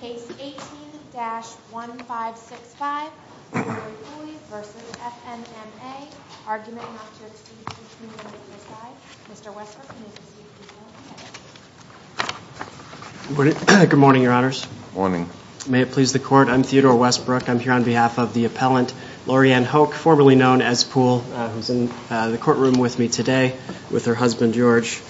Case 18-1565, Lauri Poole v. FNMA, argument not to exceed two minutes per side. Mr. Westbrook, you may proceed to the podium. Good morning, your honors. May it please the court, I'm Theodore Westbrook. I'm here on behalf of the appellant Laurieann Hoke, formerly known as Poole, who's in the courtroom with me today with her husband, George.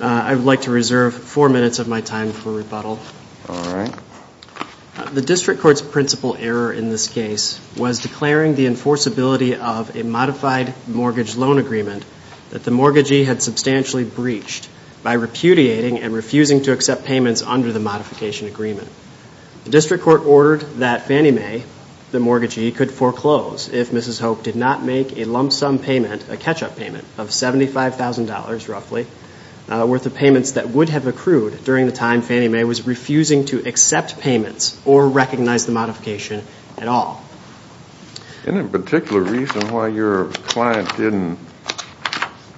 I would like to reserve four minutes of my time for rebuttal. The district court's principal error in this case was declaring the enforceability of a modified mortgage loan agreement that the mortgagee had substantially breached by repudiating and refusing to accept payments under the modification agreement. The district court ordered that Fannie Mae, the mortgagee, could foreclose if Mrs. Hoke did not make a lump sum payment, a catch-up payment of $75,000 roughly, worth of payments that would have accrued during the time Fannie Mae was refusing to accept payments or recognize the modification at all. Any particular reason why your client didn't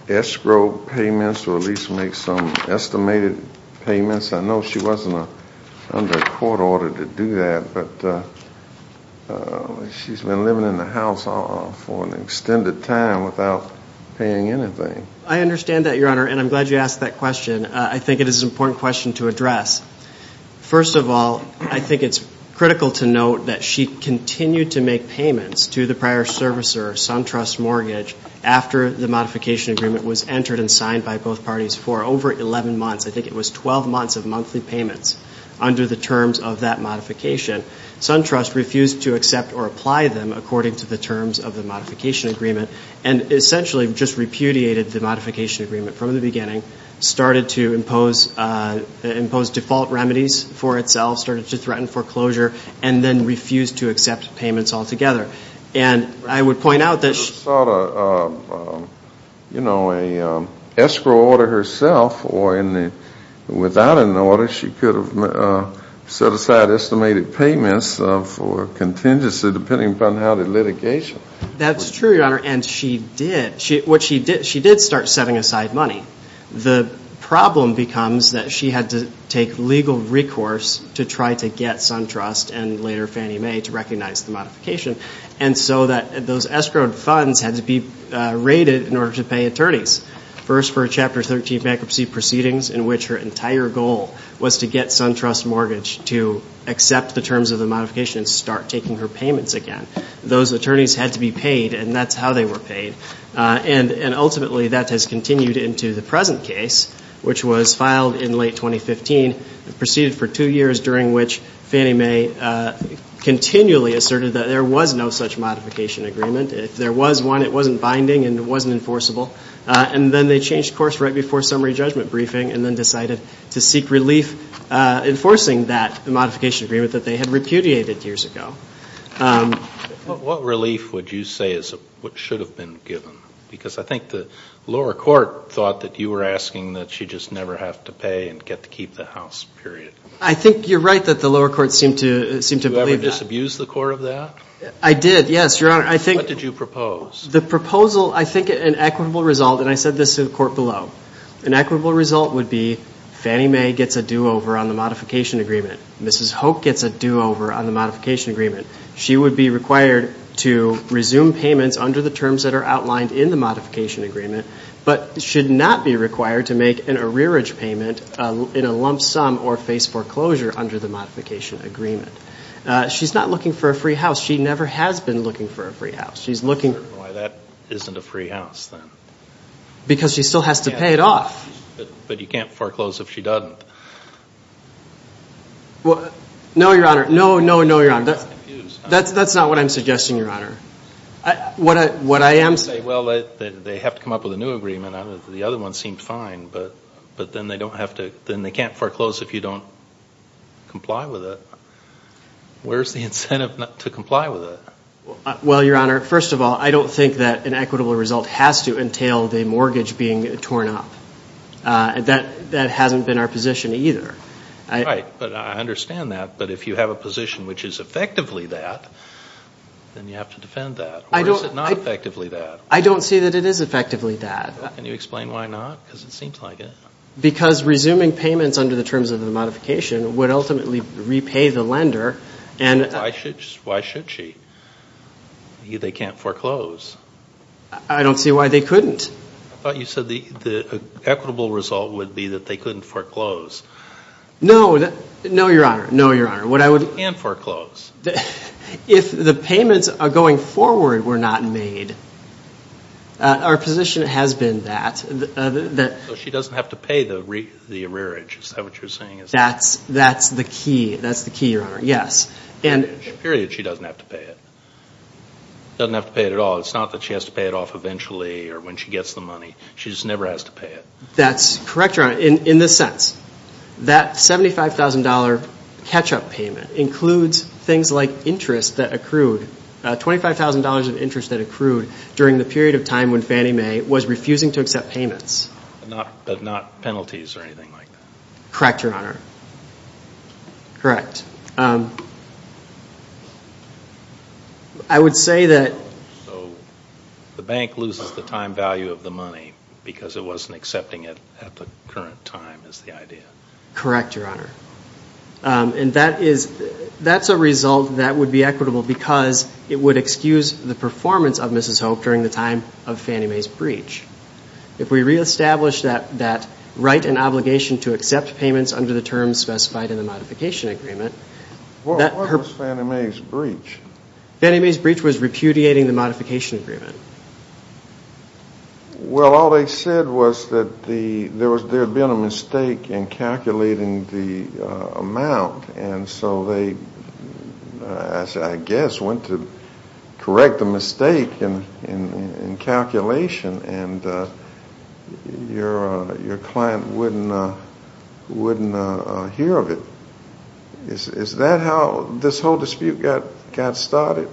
escrow payments or at least make some estimated payments? I know she wasn't under court order to do that, but she's been living in the house for an extended time without paying anything. I understand that, Your Honor, and I'm glad you asked that question. I think it is an important question to address. First of all, I think it's critical to note that she continued to make payments to the prior servicer, SunTrust Mortgage, after the modification agreement was entered and signed by both parties for over 11 months. I think it was 12 months of monthly payments under the terms of that modification. SunTrust refused to accept or apply them according to the terms of the modification agreement and essentially just repudiated the modification agreement from the beginning, started to impose default remedies for itself, started to threaten foreclosure, and then refused to accept payments altogether. She could have sought an escrow order herself or without an order she could have set aside estimated payments for contingency depending upon how the litigation. That's true, Your Honor, and she did start setting aside money. The problem becomes that she had to take legal recourse to try to get SunTrust and later Fannie Mae to recognize the modification, and so those escrowed funds had to be raided in order to pay attorneys. First for a Chapter 13 bankruptcy proceedings in which her entire goal was to get SunTrust Mortgage to accept the terms of the modification and start taking her payments again. Those attorneys had to be paid, and that's how they were paid. And ultimately that has continued into the present case, which was filed in late 2015, proceeded for two years, during which Fannie Mae continually asserted that there was no such modification agreement. If there was one, it wasn't binding and it wasn't enforceable, and then they changed course right before summary judgment briefing and then decided to seek relief enforcing that modification agreement that they had repudiated years ago. What relief would you say is what should have been given? Because I think the lower court thought that you were asking that she just never have to pay and get to keep the house, period. I think you're right that the lower court seemed to believe that. Did you ever disabuse the court of that? I did, yes, Your Honor. What did you propose? The proposal, I think an equitable result, and I said this to the court below, an equitable result would be Fannie Mae gets a do-over on the modification agreement. Mrs. Hope gets a do-over on the modification agreement. She would be required to resume payments under the terms that are outlined in the modification agreement, but should not be required to make an arrearage payment in a lump sum or face foreclosure under the modification agreement. She's not looking for a free house. She never has been looking for a free house. That isn't a free house then. Because she still has to pay it off. But you can't foreclose if she doesn't. No, Your Honor. No, no, no, Your Honor. That's not what I'm suggesting, Your Honor. Well, they have to come up with a new agreement. The other one seemed fine, but then they can't foreclose if you don't comply with it. Where's the incentive to comply with it? Well, Your Honor, first of all, I don't think that an equitable result has to entail the mortgage being torn up. That hasn't been our position either. Right. But I understand that. But if you have a position which is effectively that, then you have to defend that. Or is it not effectively that? I don't see that it is effectively that. Can you explain why not? Because it seems like it. Because resuming payments under the terms of the modification would ultimately repay the lender. Why should she? They can't foreclose. I don't see why they couldn't. I thought you said the equitable result would be that they couldn't foreclose. No, Your Honor. And foreclose. If the payments going forward were not made, our position has been that. So she doesn't have to pay the arrearage. Is that what you're saying? That's the key, Your Honor. Yes. Period, she doesn't have to pay it. Doesn't have to pay it at all. It's not that she has to pay it off eventually or when she gets the money. She just never has to pay it. That's correct, Your Honor, in this sense. That $75,000 catch-up payment includes things like interest that accrued. $25,000 of interest that accrued during the period of time when Fannie Mae was refusing to accept payments. But not penalties or anything like that. Correct, Your Honor. Correct. I would say that. So the bank loses the time value of the money because it wasn't accepting it at the current time is the idea. Correct, Your Honor. And that's a result that would be equitable because it would excuse the performance of Mrs. Hope during the time of Fannie Mae's breach. If we reestablish that right and obligation to accept payments under the terms specified in the modification agreement. What was Fannie Mae's breach? Fannie Mae's breach was repudiating the modification agreement. Well, all they said was that there had been a mistake in calculating the amount. And so they, I guess, went to correct the mistake in calculation. And your client wouldn't hear of it. Is that how this whole dispute got started?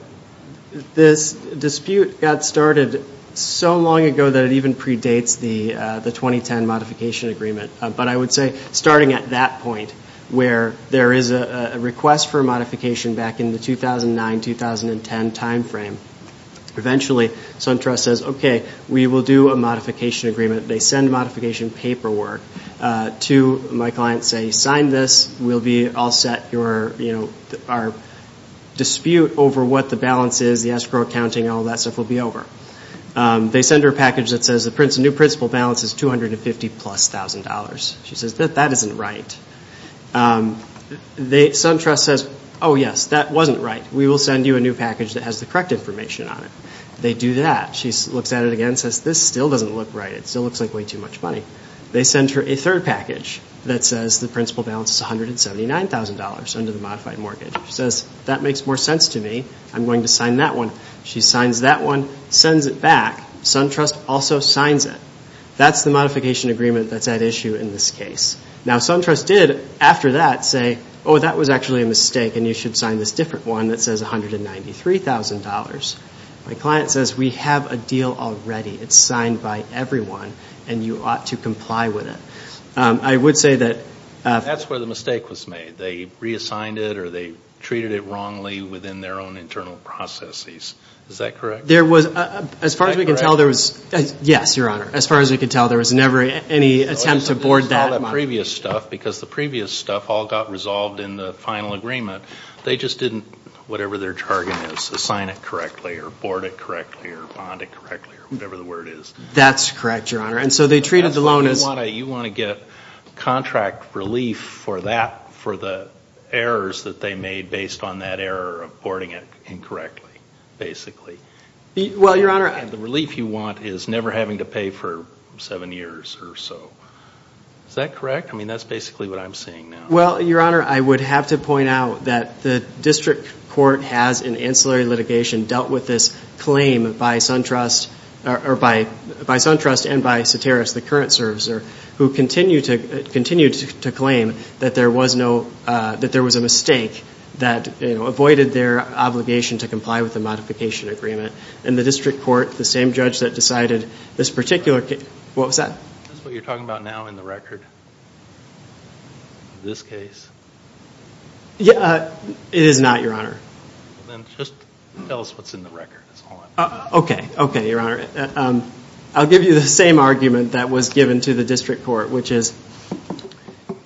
This dispute got started so long ago that it even predates the 2010 modification agreement. But I would say starting at that point where there is a request for a modification back in the 2009-2010 time frame. Eventually, SunTrust says, okay, we will do a modification agreement. They send modification paperwork to my client and say, sign this. We'll be all set. Our dispute over what the balance is, the escrow accounting, all that stuff will be over. They send her a package that says the new principal balance is $250,000+. She says, that isn't right. SunTrust says, oh yes, that wasn't right. We will send you a new package that has the correct information on it. They do that. She looks at it again and says, this still doesn't look right. It still looks like way too much money. They send her a third package that says the principal balance is $179,000 under the modified mortgage. She says, that makes more sense to me. I'm going to sign that one. She signs that one, sends it back. SunTrust also signs it. That's the modification agreement that's at issue in this case. Now, SunTrust did, after that, say, oh, that was actually a mistake, and you should sign this different one that says $193,000. My client says, we have a deal already. It's signed by everyone, and you ought to comply with it. I would say that... That's where the mistake was made. They reassigned it or they treated it wrongly within their own internal processes. Is that correct? There was, as far as we can tell, there was... Yes, Your Honor. As far as we can tell, there was never any attempt to board that money. Because the previous stuff all got resolved in the final agreement. They just didn't, whatever their target is, assign it correctly or board it correctly or bond it correctly or whatever the word is. That's correct, Your Honor. And so they treated the loan as... You want to get contract relief for the errors that they made based on that error of boarding it incorrectly, basically. Well, Your Honor... And the relief you want is never having to pay for seven years or so. Is that correct? I mean, that's basically what I'm seeing now. Well, Your Honor, I would have to point out that the district court has, in ancillary litigation, dealt with this claim by SunTrust and by Soteris, the current servicer, who continued to claim that there was a mistake that avoided their obligation to comply with the modification agreement. And the district court, the same judge that decided this particular case... What was that? That's what you're talking about now in the record, this case. It is not, Your Honor. Then just tell us what's in the record. Okay. Okay, Your Honor. I'll give you the same argument that was given to the district court, which is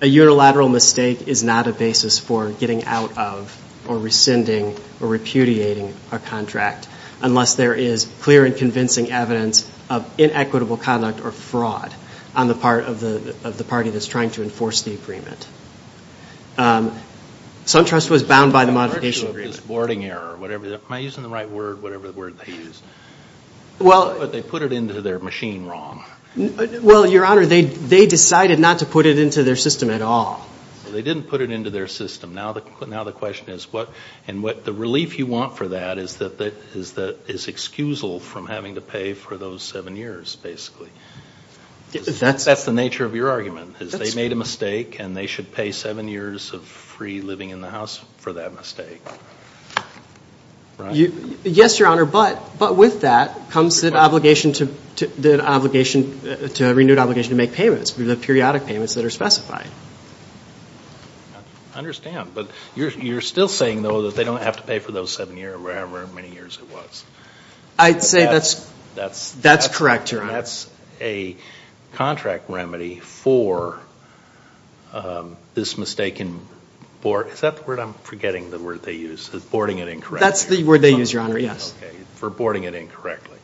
a unilateral mistake is not a basis for getting out of or rescinding or repudiating a contract unless there is clear and convincing evidence of inequitable conduct or fraud on the part of the party that's trying to enforce the agreement. SunTrust was bound by the modification agreement. Am I using the right word? Whatever word they used. But they put it into their machine wrong. Well, Your Honor, they decided not to put it into their system at all. They didn't put it into their system. Now the question is what? And the relief you want for that is excusal from having to pay for those seven years, basically. That's the nature of your argument. And they should pay seven years of free living in the house for that mistake, right? Yes, Your Honor, but with that comes the obligation to make payments, the periodic payments that are specified. I understand, but you're still saying, though, that they don't have to pay for those seven years or however many years it was. I'd say that's correct, Your Honor. That's a contract remedy for this mistaken board. Is that the word? I'm forgetting the word they used, boarding it incorrectly. That's the word they used, Your Honor, yes. For boarding it incorrectly.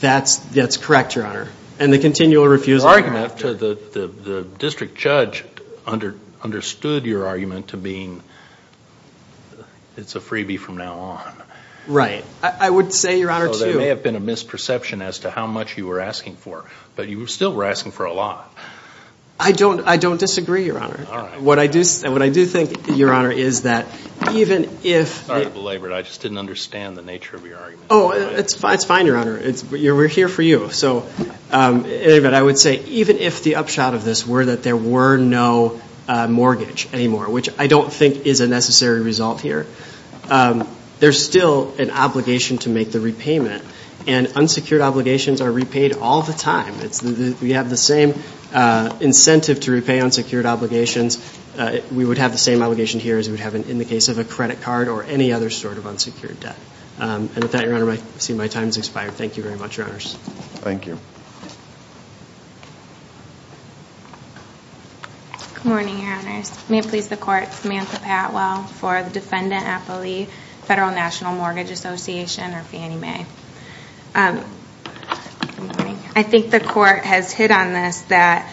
That's correct, Your Honor. And the continual refusal thereafter. The district judge understood your argument to being it's a freebie from now on. Right. I would say, Your Honor, too. There may have been a misperception as to how much you were asking for, but you still were asking for a lot. I don't disagree, Your Honor. All right. What I do think, Your Honor, is that even if... Sorry to belabor it. I just didn't understand the nature of your argument. Oh, it's fine, Your Honor. We're here for you. So I would say even if the upshot of this were that there were no mortgage anymore, which I don't think is a necessary result here, there's still an obligation to make the repayment. And unsecured obligations are repaid all the time. We have the same incentive to repay unsecured obligations. We would have the same obligation here as we would have in the case of a credit card or any other sort of unsecured debt. And with that, Your Honor, I see my time has expired. Thank you very much, Your Honors. Thank you. Good morning, Your Honors. May it please the Court, Samantha Patwell for the defendant appellee, Federal National Mortgage Association, or Fannie Mae. Good morning. I think the Court has hit on this that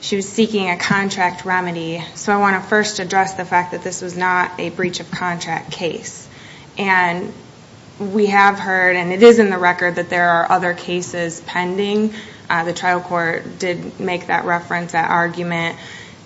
she was seeking a contract remedy. So I want to first address the fact that this was not a breach of contract case. And we have heard, and it is in the record, that there are other cases pending. The trial court did make that reference, that argument.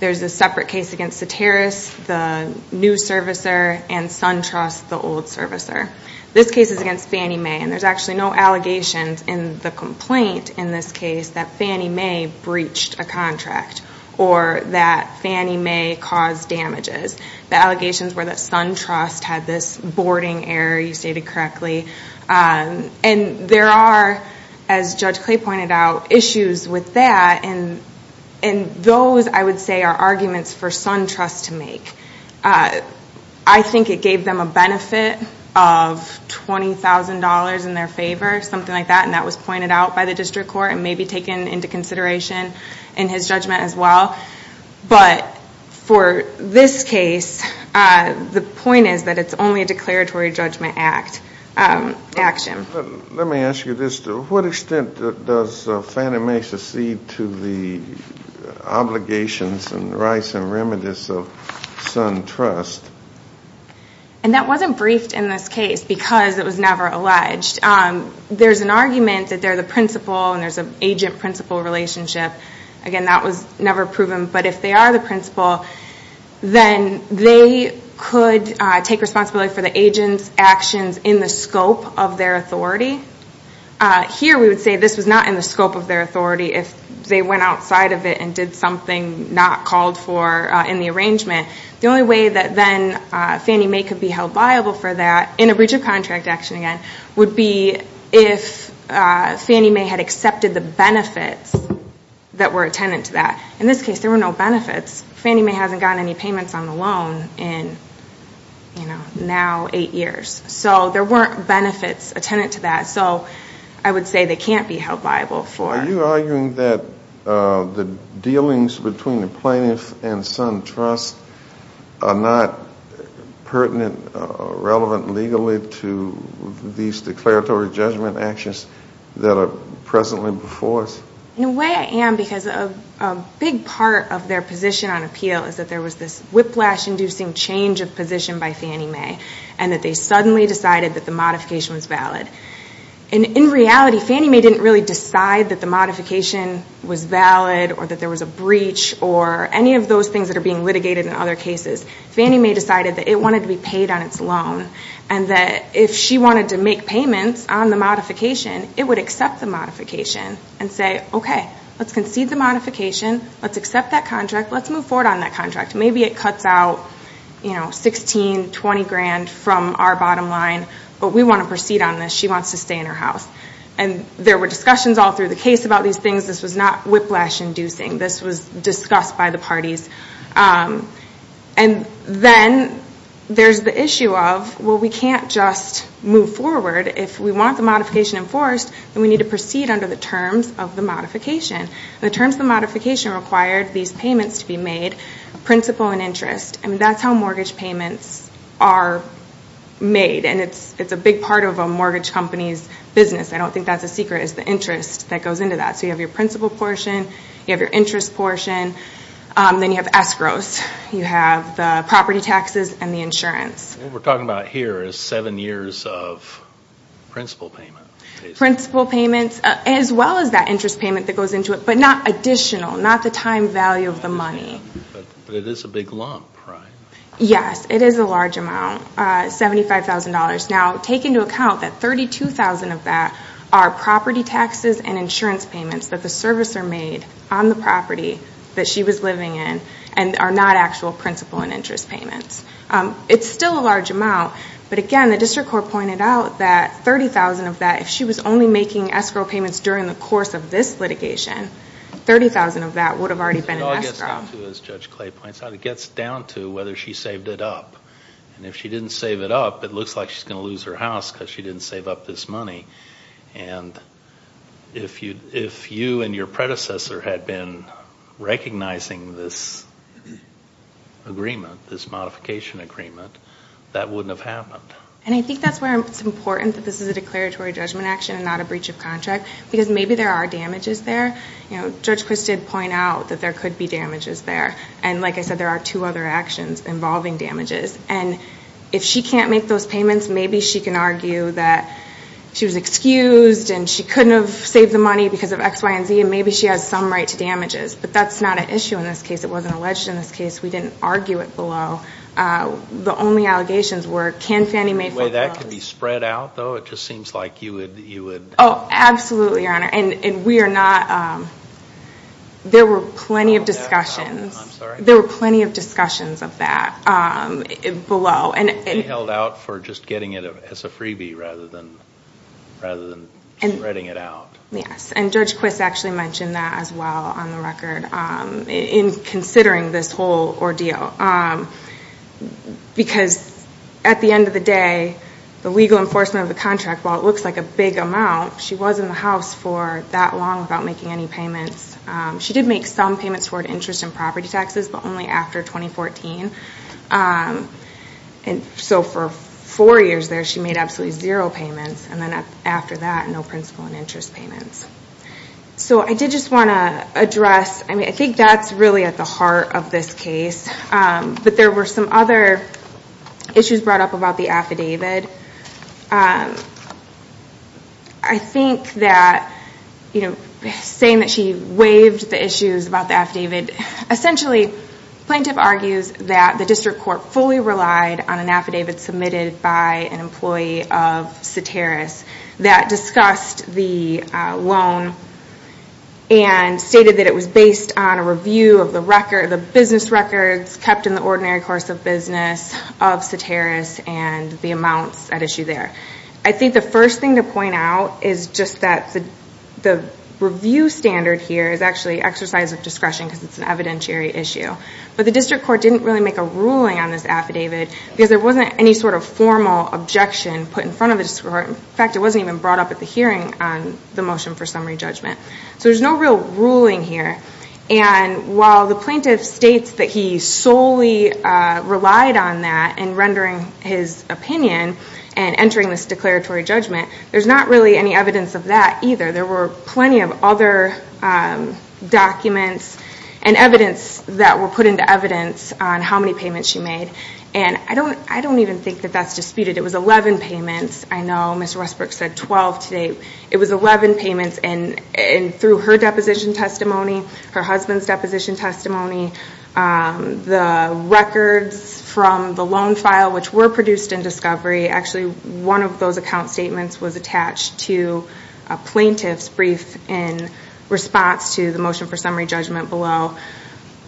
There's a separate case against Ceteris, the new servicer, and SunTrust, the old servicer. This case is against Fannie Mae, and there's actually no allegations in the complaint in this case that Fannie Mae breached a contract or that Fannie Mae caused damages. The allegations were that SunTrust had this boarding error, you stated correctly. And there are, as Judge Clay pointed out, issues with that. And those, I would say, are arguments for SunTrust to make. I think it gave them a benefit of $20,000 in their favor, something like that, and that was pointed out by the district court and maybe taken into consideration in his judgment as well. But for this case, the point is that it's only a declaratory judgment action. Let me ask you this. To what extent does Fannie Mae secede to the obligations and rights and remedies of SunTrust? And that wasn't briefed in this case because it was never alleged. There's an argument that they're the principal and there's an agent-principal relationship. Again, that was never proven. But if they are the principal, then they could take responsibility for the agent's actions in the scope of their authority. Here we would say this was not in the scope of their authority if they went outside of it and did something not called for in the arrangement. The only way that then Fannie Mae could be held liable for that, in a breach of contract action again, would be if Fannie Mae had accepted the benefits that were attendant to that. In this case, there were no benefits. Fannie Mae hasn't gotten any payments on the loan in now eight years. So there weren't benefits attendant to that. So I would say they can't be held liable for it. Are you arguing that the dealings between the plaintiff and SunTrust are not pertinent, relevant legally to these declaratory judgment actions that are presently before us? In a way, I am, because a big part of their position on appeal is that there was this whiplash-inducing change of position by Fannie Mae and that they suddenly decided that the modification was valid. In reality, Fannie Mae didn't really decide that the modification was valid or that there was a breach or any of those things that are being litigated in other cases. Fannie Mae decided that it wanted to be paid on its loan and that if she wanted to make payments on the modification, it would accept the modification and say, okay, let's concede the modification, let's accept that contract, let's move forward on that contract. Maybe it cuts out $16,000, $20,000 from our bottom line, but we want to proceed on this. She wants to stay in her house. There were discussions all through the case about these things. This was not whiplash-inducing. This was discussed by the parties. Then there's the issue of, well, we can't just move forward. If we want the modification enforced, then we need to proceed under the terms of the modification. The terms of the modification required these payments to be made, principal and interest. That's how mortgage payments are made, and it's a big part of a mortgage company's business. I don't think that's a secret, is the interest that goes into that. You have your principal portion, you have your interest portion, then you have escrows. You have the property taxes and the insurance. What we're talking about here is seven years of principal payment. Principal payments as well as that interest payment that goes into it, but not additional, not the time value of the money. But it is a big lump, right? Yes, it is a large amount, $75,000. Now take into account that $32,000 of that are property taxes and insurance payments that the servicer made on the property that she was living in and are not actual principal and interest payments. It's still a large amount, but again, the district court pointed out that $30,000 of that, if she was only making escrow payments during the course of this litigation, $30,000 of that would have already been in escrow. It all gets down to, as Judge Clay points out, it gets down to whether she saved it up. And if she didn't save it up, it looks like she's going to lose her house because she didn't save up this money. And if you and your predecessor had been recognizing this agreement, this modification agreement, that wouldn't have happened. And I think that's where it's important that this is a declaratory judgment action and not a breach of contract, because maybe there are damages there. Judge Quist did point out that there could be damages there. And like I said, there are two other actions involving damages. And if she can't make those payments, maybe she can argue that she was excused and she couldn't have saved the money because of X, Y, and Z. And maybe she has some right to damages. But that's not an issue in this case. It wasn't alleged in this case. We didn't argue it below. The only allegations were, can Fannie Mae fulfill those? The way that could be spread out, though, it just seems like you would – Oh, absolutely, Your Honor. And we are not – there were plenty of discussions. I'm sorry? There were plenty of discussions of that. Below. She held out for just getting it as a freebie rather than spreading it out. Yes, and Judge Quist actually mentioned that as well on the record in considering this whole ordeal. Because at the end of the day, the legal enforcement of the contract, while it looks like a big amount, she was in the House for that long without making any payments. She did make some payments toward interest and property taxes, but only after 2014. So for four years there, she made absolutely zero payments. And then after that, no principal and interest payments. So I did just want to address – I think that's really at the heart of this case. But there were some other issues brought up about the affidavit. I think that saying that she waived the issues about the affidavit, essentially plaintiff argues that the district court fully relied on an affidavit submitted by an employee of Soteris that discussed the loan and stated that it was based on a review of the business records kept in the ordinary course of business of Soteris and the amounts at issue there. I think the first thing to point out is just that the review standard here is actually exercise of discretion because it's an evidentiary issue. But the district court didn't really make a ruling on this affidavit because there wasn't any sort of formal objection put in front of the district court. In fact, it wasn't even brought up at the hearing on the motion for summary judgment. So there's no real ruling here. And while the plaintiff states that he solely relied on that in rendering his opinion and entering this declaratory judgment, there's not really any evidence of that either. There were plenty of other documents and evidence that were put into evidence on how many payments she made. And I don't even think that that's disputed. It was 11 payments. I know Ms. Westbrook said 12 today. It was 11 payments, and through her deposition testimony, her husband's deposition testimony, the records from the loan file which were produced in discovery, actually one of those account statements was attached to a plaintiff's brief in response to the motion for summary judgment below.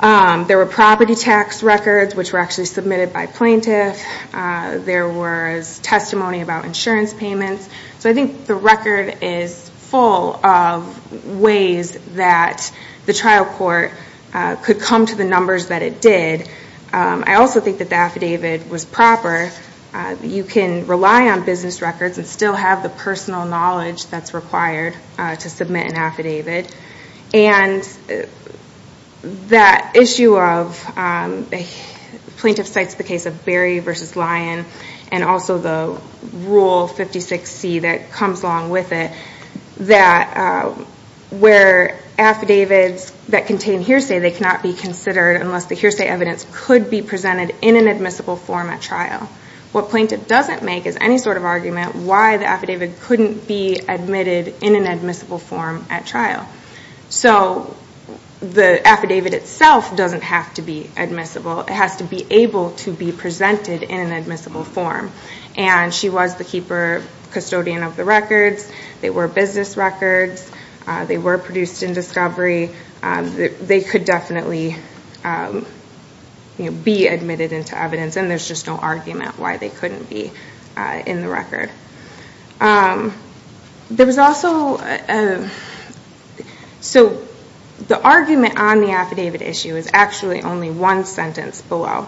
There were property tax records which were actually submitted by plaintiff. There was testimony about insurance payments. So I think the record is full of ways that the trial court could come to the numbers that it did. I also think that the affidavit was proper. You can rely on business records and still have the personal knowledge that's required to submit an affidavit. And that issue of the plaintiff cites the case of Berry v. Lyon and also the Rule 56C that comes along with it that where affidavits that contain hearsay, they cannot be considered unless the hearsay evidence could be presented in an admissible form at trial. What plaintiff doesn't make is any sort of argument why the affidavit couldn't be admitted in an admissible form at trial. It has to be able to be presented in an admissible form. And she was the keeper, custodian of the records. They were business records. They were produced in discovery. They could definitely be admitted into evidence and there's just no argument why they couldn't be in the record. The argument on the affidavit issue is actually only one sentence below.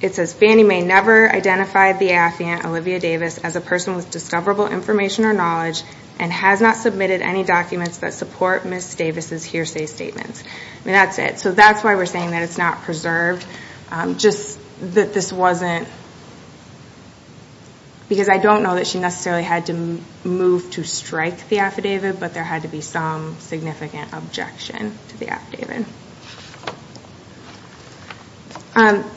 It says, Fannie Mae never identified the affiant Olivia Davis as a person with discoverable information or knowledge and has not submitted any documents that support Ms. Davis' hearsay statements. That's it. That's why we're saying that it's not preserved. Just that this wasn't... Because I don't know that she necessarily had to move to strike the affidavit, but there had to be some significant objection to the affidavit.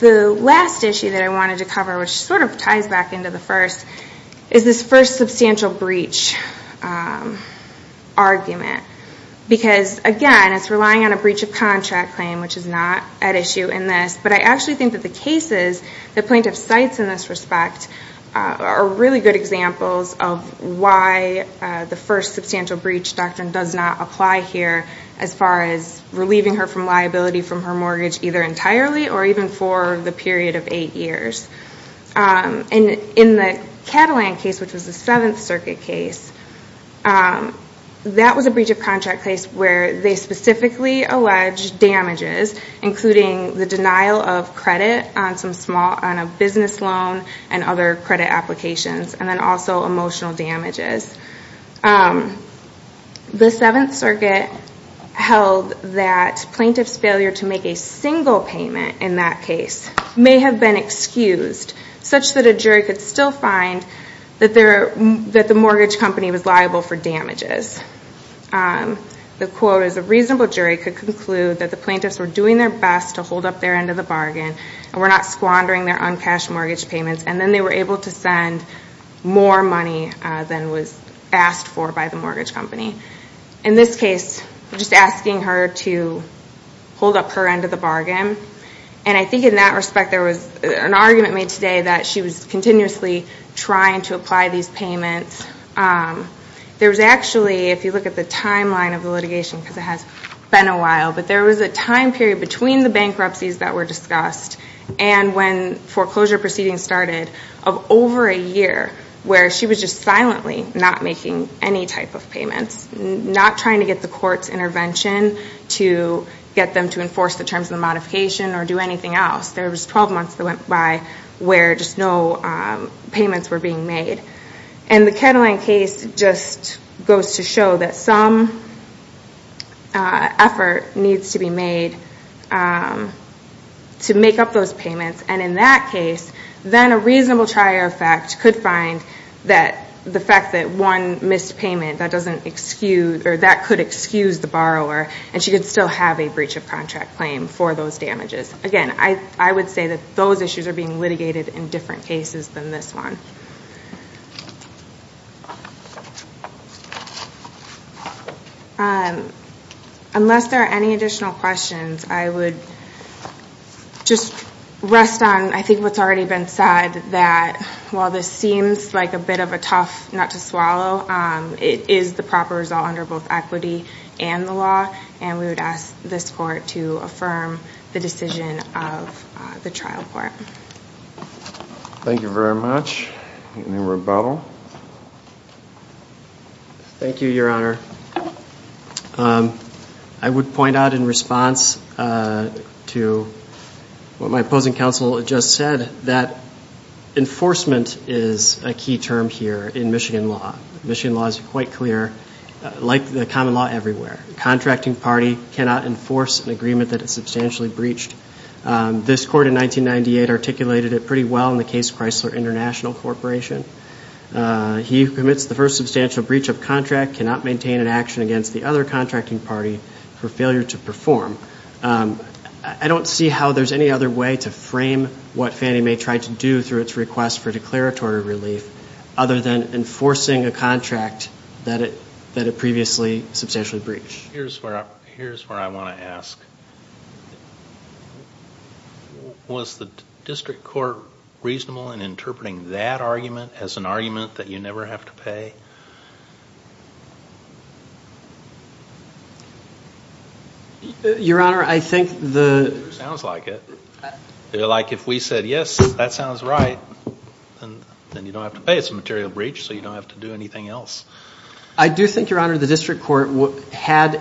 The last issue that I wanted to cover, which sort of ties back into the first, is this first substantial breach argument. Because, again, it's relying on a breach of contract claim, which is not at issue in this. But I actually think that the cases the plaintiff cites in this respect are really good examples of why the first substantial breach doctrine does not apply here as far as relieving her from liability from her mortgage, either entirely or even for the period of eight years. In the Catalan case, which was the Seventh Circuit case, that was a breach of contract case where they specifically alleged damages, including the denial of credit on a business loan and other credit applications, and then also emotional damages. The Seventh Circuit held that plaintiff's failure to make a single payment in that case may have been excused, such that a jury could still find that the mortgage company was liable for damages. The quote is, a reasonable jury could conclude that the plaintiffs were doing their best to hold up their end of the bargain and were not squandering their uncashed mortgage payments, and then they were able to send more money than was asked for by the mortgage company. In this case, just asking her to hold up her end of the bargain. I think in that respect, there was an argument made today that she was continuously trying to apply these payments. There was actually, if you look at the timeline of the litigation, because it has been a while, but there was a time period between the bankruptcies that were discussed and when foreclosure proceedings started of over a year where she was just silently not making any type of payments, not trying to get the court's intervention to get them to enforce the terms of the modification or do anything else. There was 12 months that went by where just no payments were being made. The Ketterling case just goes to show that some effort needs to be made to make up those payments, and in that case, then a reasonable trier effect could find the fact that one missed payment could excuse the borrower and she could still have a breach of contract claim for those damages. Again, I would say that those issues are being litigated in different cases than this one. Unless there are any additional questions, I would just rest on what's already been said, that while this seems like a bit of a tough nut to swallow, it is the proper result under both equity and the law, and we would ask this court to affirm the decision of the trial court. Thank you very much. Any rebuttal? Thank you, Your Honor. I would point out in response to what my opposing counsel just said that enforcement is a key term here in Michigan law. Michigan law is quite clear, like the common law everywhere. A contracting party cannot enforce an agreement that is substantially breached. This court in 1998 articulated it pretty well in the case Chrysler International Corporation. He who commits the first substantial breach of contract cannot maintain an action against the other contracting party for failure to perform. I don't see how there's any other way to frame what Fannie Mae tried to do through its request for declaratory relief other than enforcing a contract that it previously substantially breached. Here's where I want to ask. Was the district court reasonable in interpreting that argument as an argument that you never have to pay? Your Honor, I think the... Sounds like it. Like if we said, yes, that sounds right, then you don't have to pay. It's a material breach, so you don't have to do anything else. I do think, Your Honor, the district court had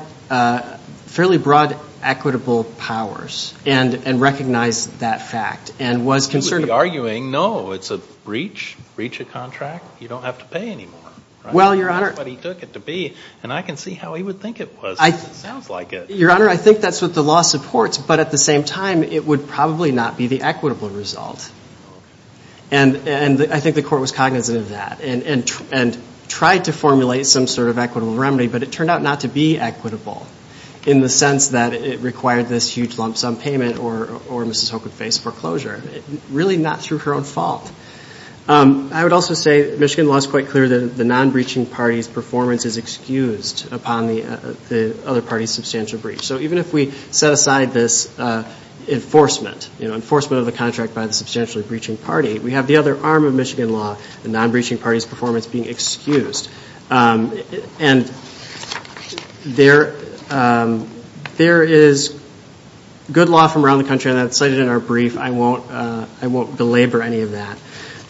fairly broad equitable powers and recognized that fact and was concerned... We wouldn't be arguing. No, it's a breach, breach of contract. You don't have to pay anymore. Well, Your Honor... That's what he took it to be, and I can see how he would think it was. It sounds like it. Your Honor, I think that's what the law supports, but at the same time, it would probably not be the equitable result. And I think the court was cognizant of that and tried to formulate some sort of equitable remedy, but it turned out not to be equitable in the sense that it required this huge lump sum payment or Mrs. Hoke would face foreclosure. Really not through her own fault. I would also say Michigan law is quite clear that the non-breaching party's performance is excused upon the other party's substantial breach. So even if we set aside this enforcement, enforcement of the contract by the substantially breaching party, we have the other arm of Michigan law, the non-breaching party's performance, being excused. And there is good law from around the country, and that's cited in our brief. I won't belabor any of that.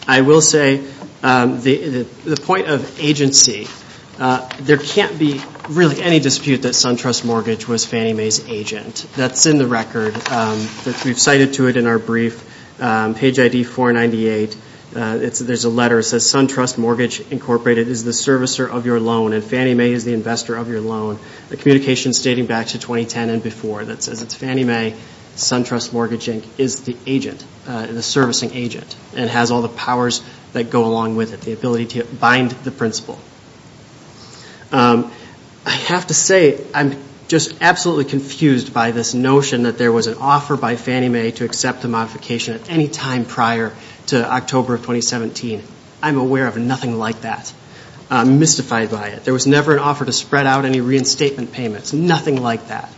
I will say the point of agency, there can't be really any dispute that SunTrust Mortgage was Fannie Mae's agent. That's in the record. We've cited to it in our brief, page ID 498. There's a letter that says, SunTrust Mortgage Incorporated is the servicer of your loan and Fannie Mae is the investor of your loan. The communication's dating back to 2010 and before. That says it's Fannie Mae, SunTrust Mortgage Inc. is the agent, the servicing agent, and has all the powers that go along with it, the ability to bind the principal. I have to say I'm just absolutely confused by this notion that there was an offer by Fannie Mae to accept the modification at any time prior to October of 2017. I'm aware of nothing like that. I'm mystified by it. There was never an offer to spread out any reinstatement payments, nothing like that.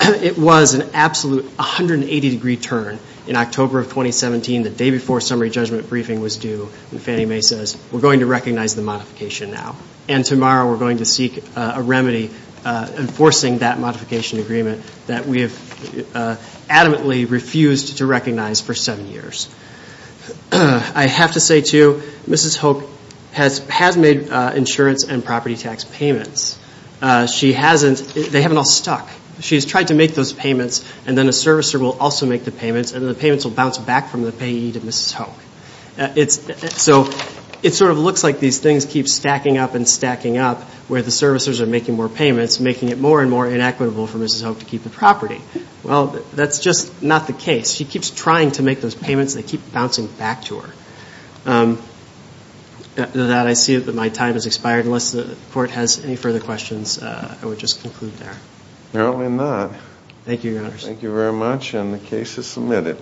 It was an absolute 180-degree turn in October of 2017, the day before summary judgment briefing was due, when Fannie Mae says, We're going to recognize the modification now, and tomorrow we're going to seek a remedy enforcing that modification agreement that we have adamantly refused to recognize for seven years. I have to say, too, Mrs. Hope has made insurance and property tax payments. She hasn't. They haven't all stuck. She has tried to make those payments, and then a servicer will also make the payments, and then the payments will bounce back from the payee to Mrs. Hope. So it sort of looks like these things keep stacking up and stacking up, where the servicers are making more payments, making it more and more inequitable for Mrs. Hope to keep the property. Well, that's just not the case. She keeps trying to make those payments, and they keep bouncing back to her. With that, I see that my time has expired. Unless the Court has any further questions, I would just conclude there. Apparently not. Thank you, Your Honors. Thank you very much, and the case is submitted.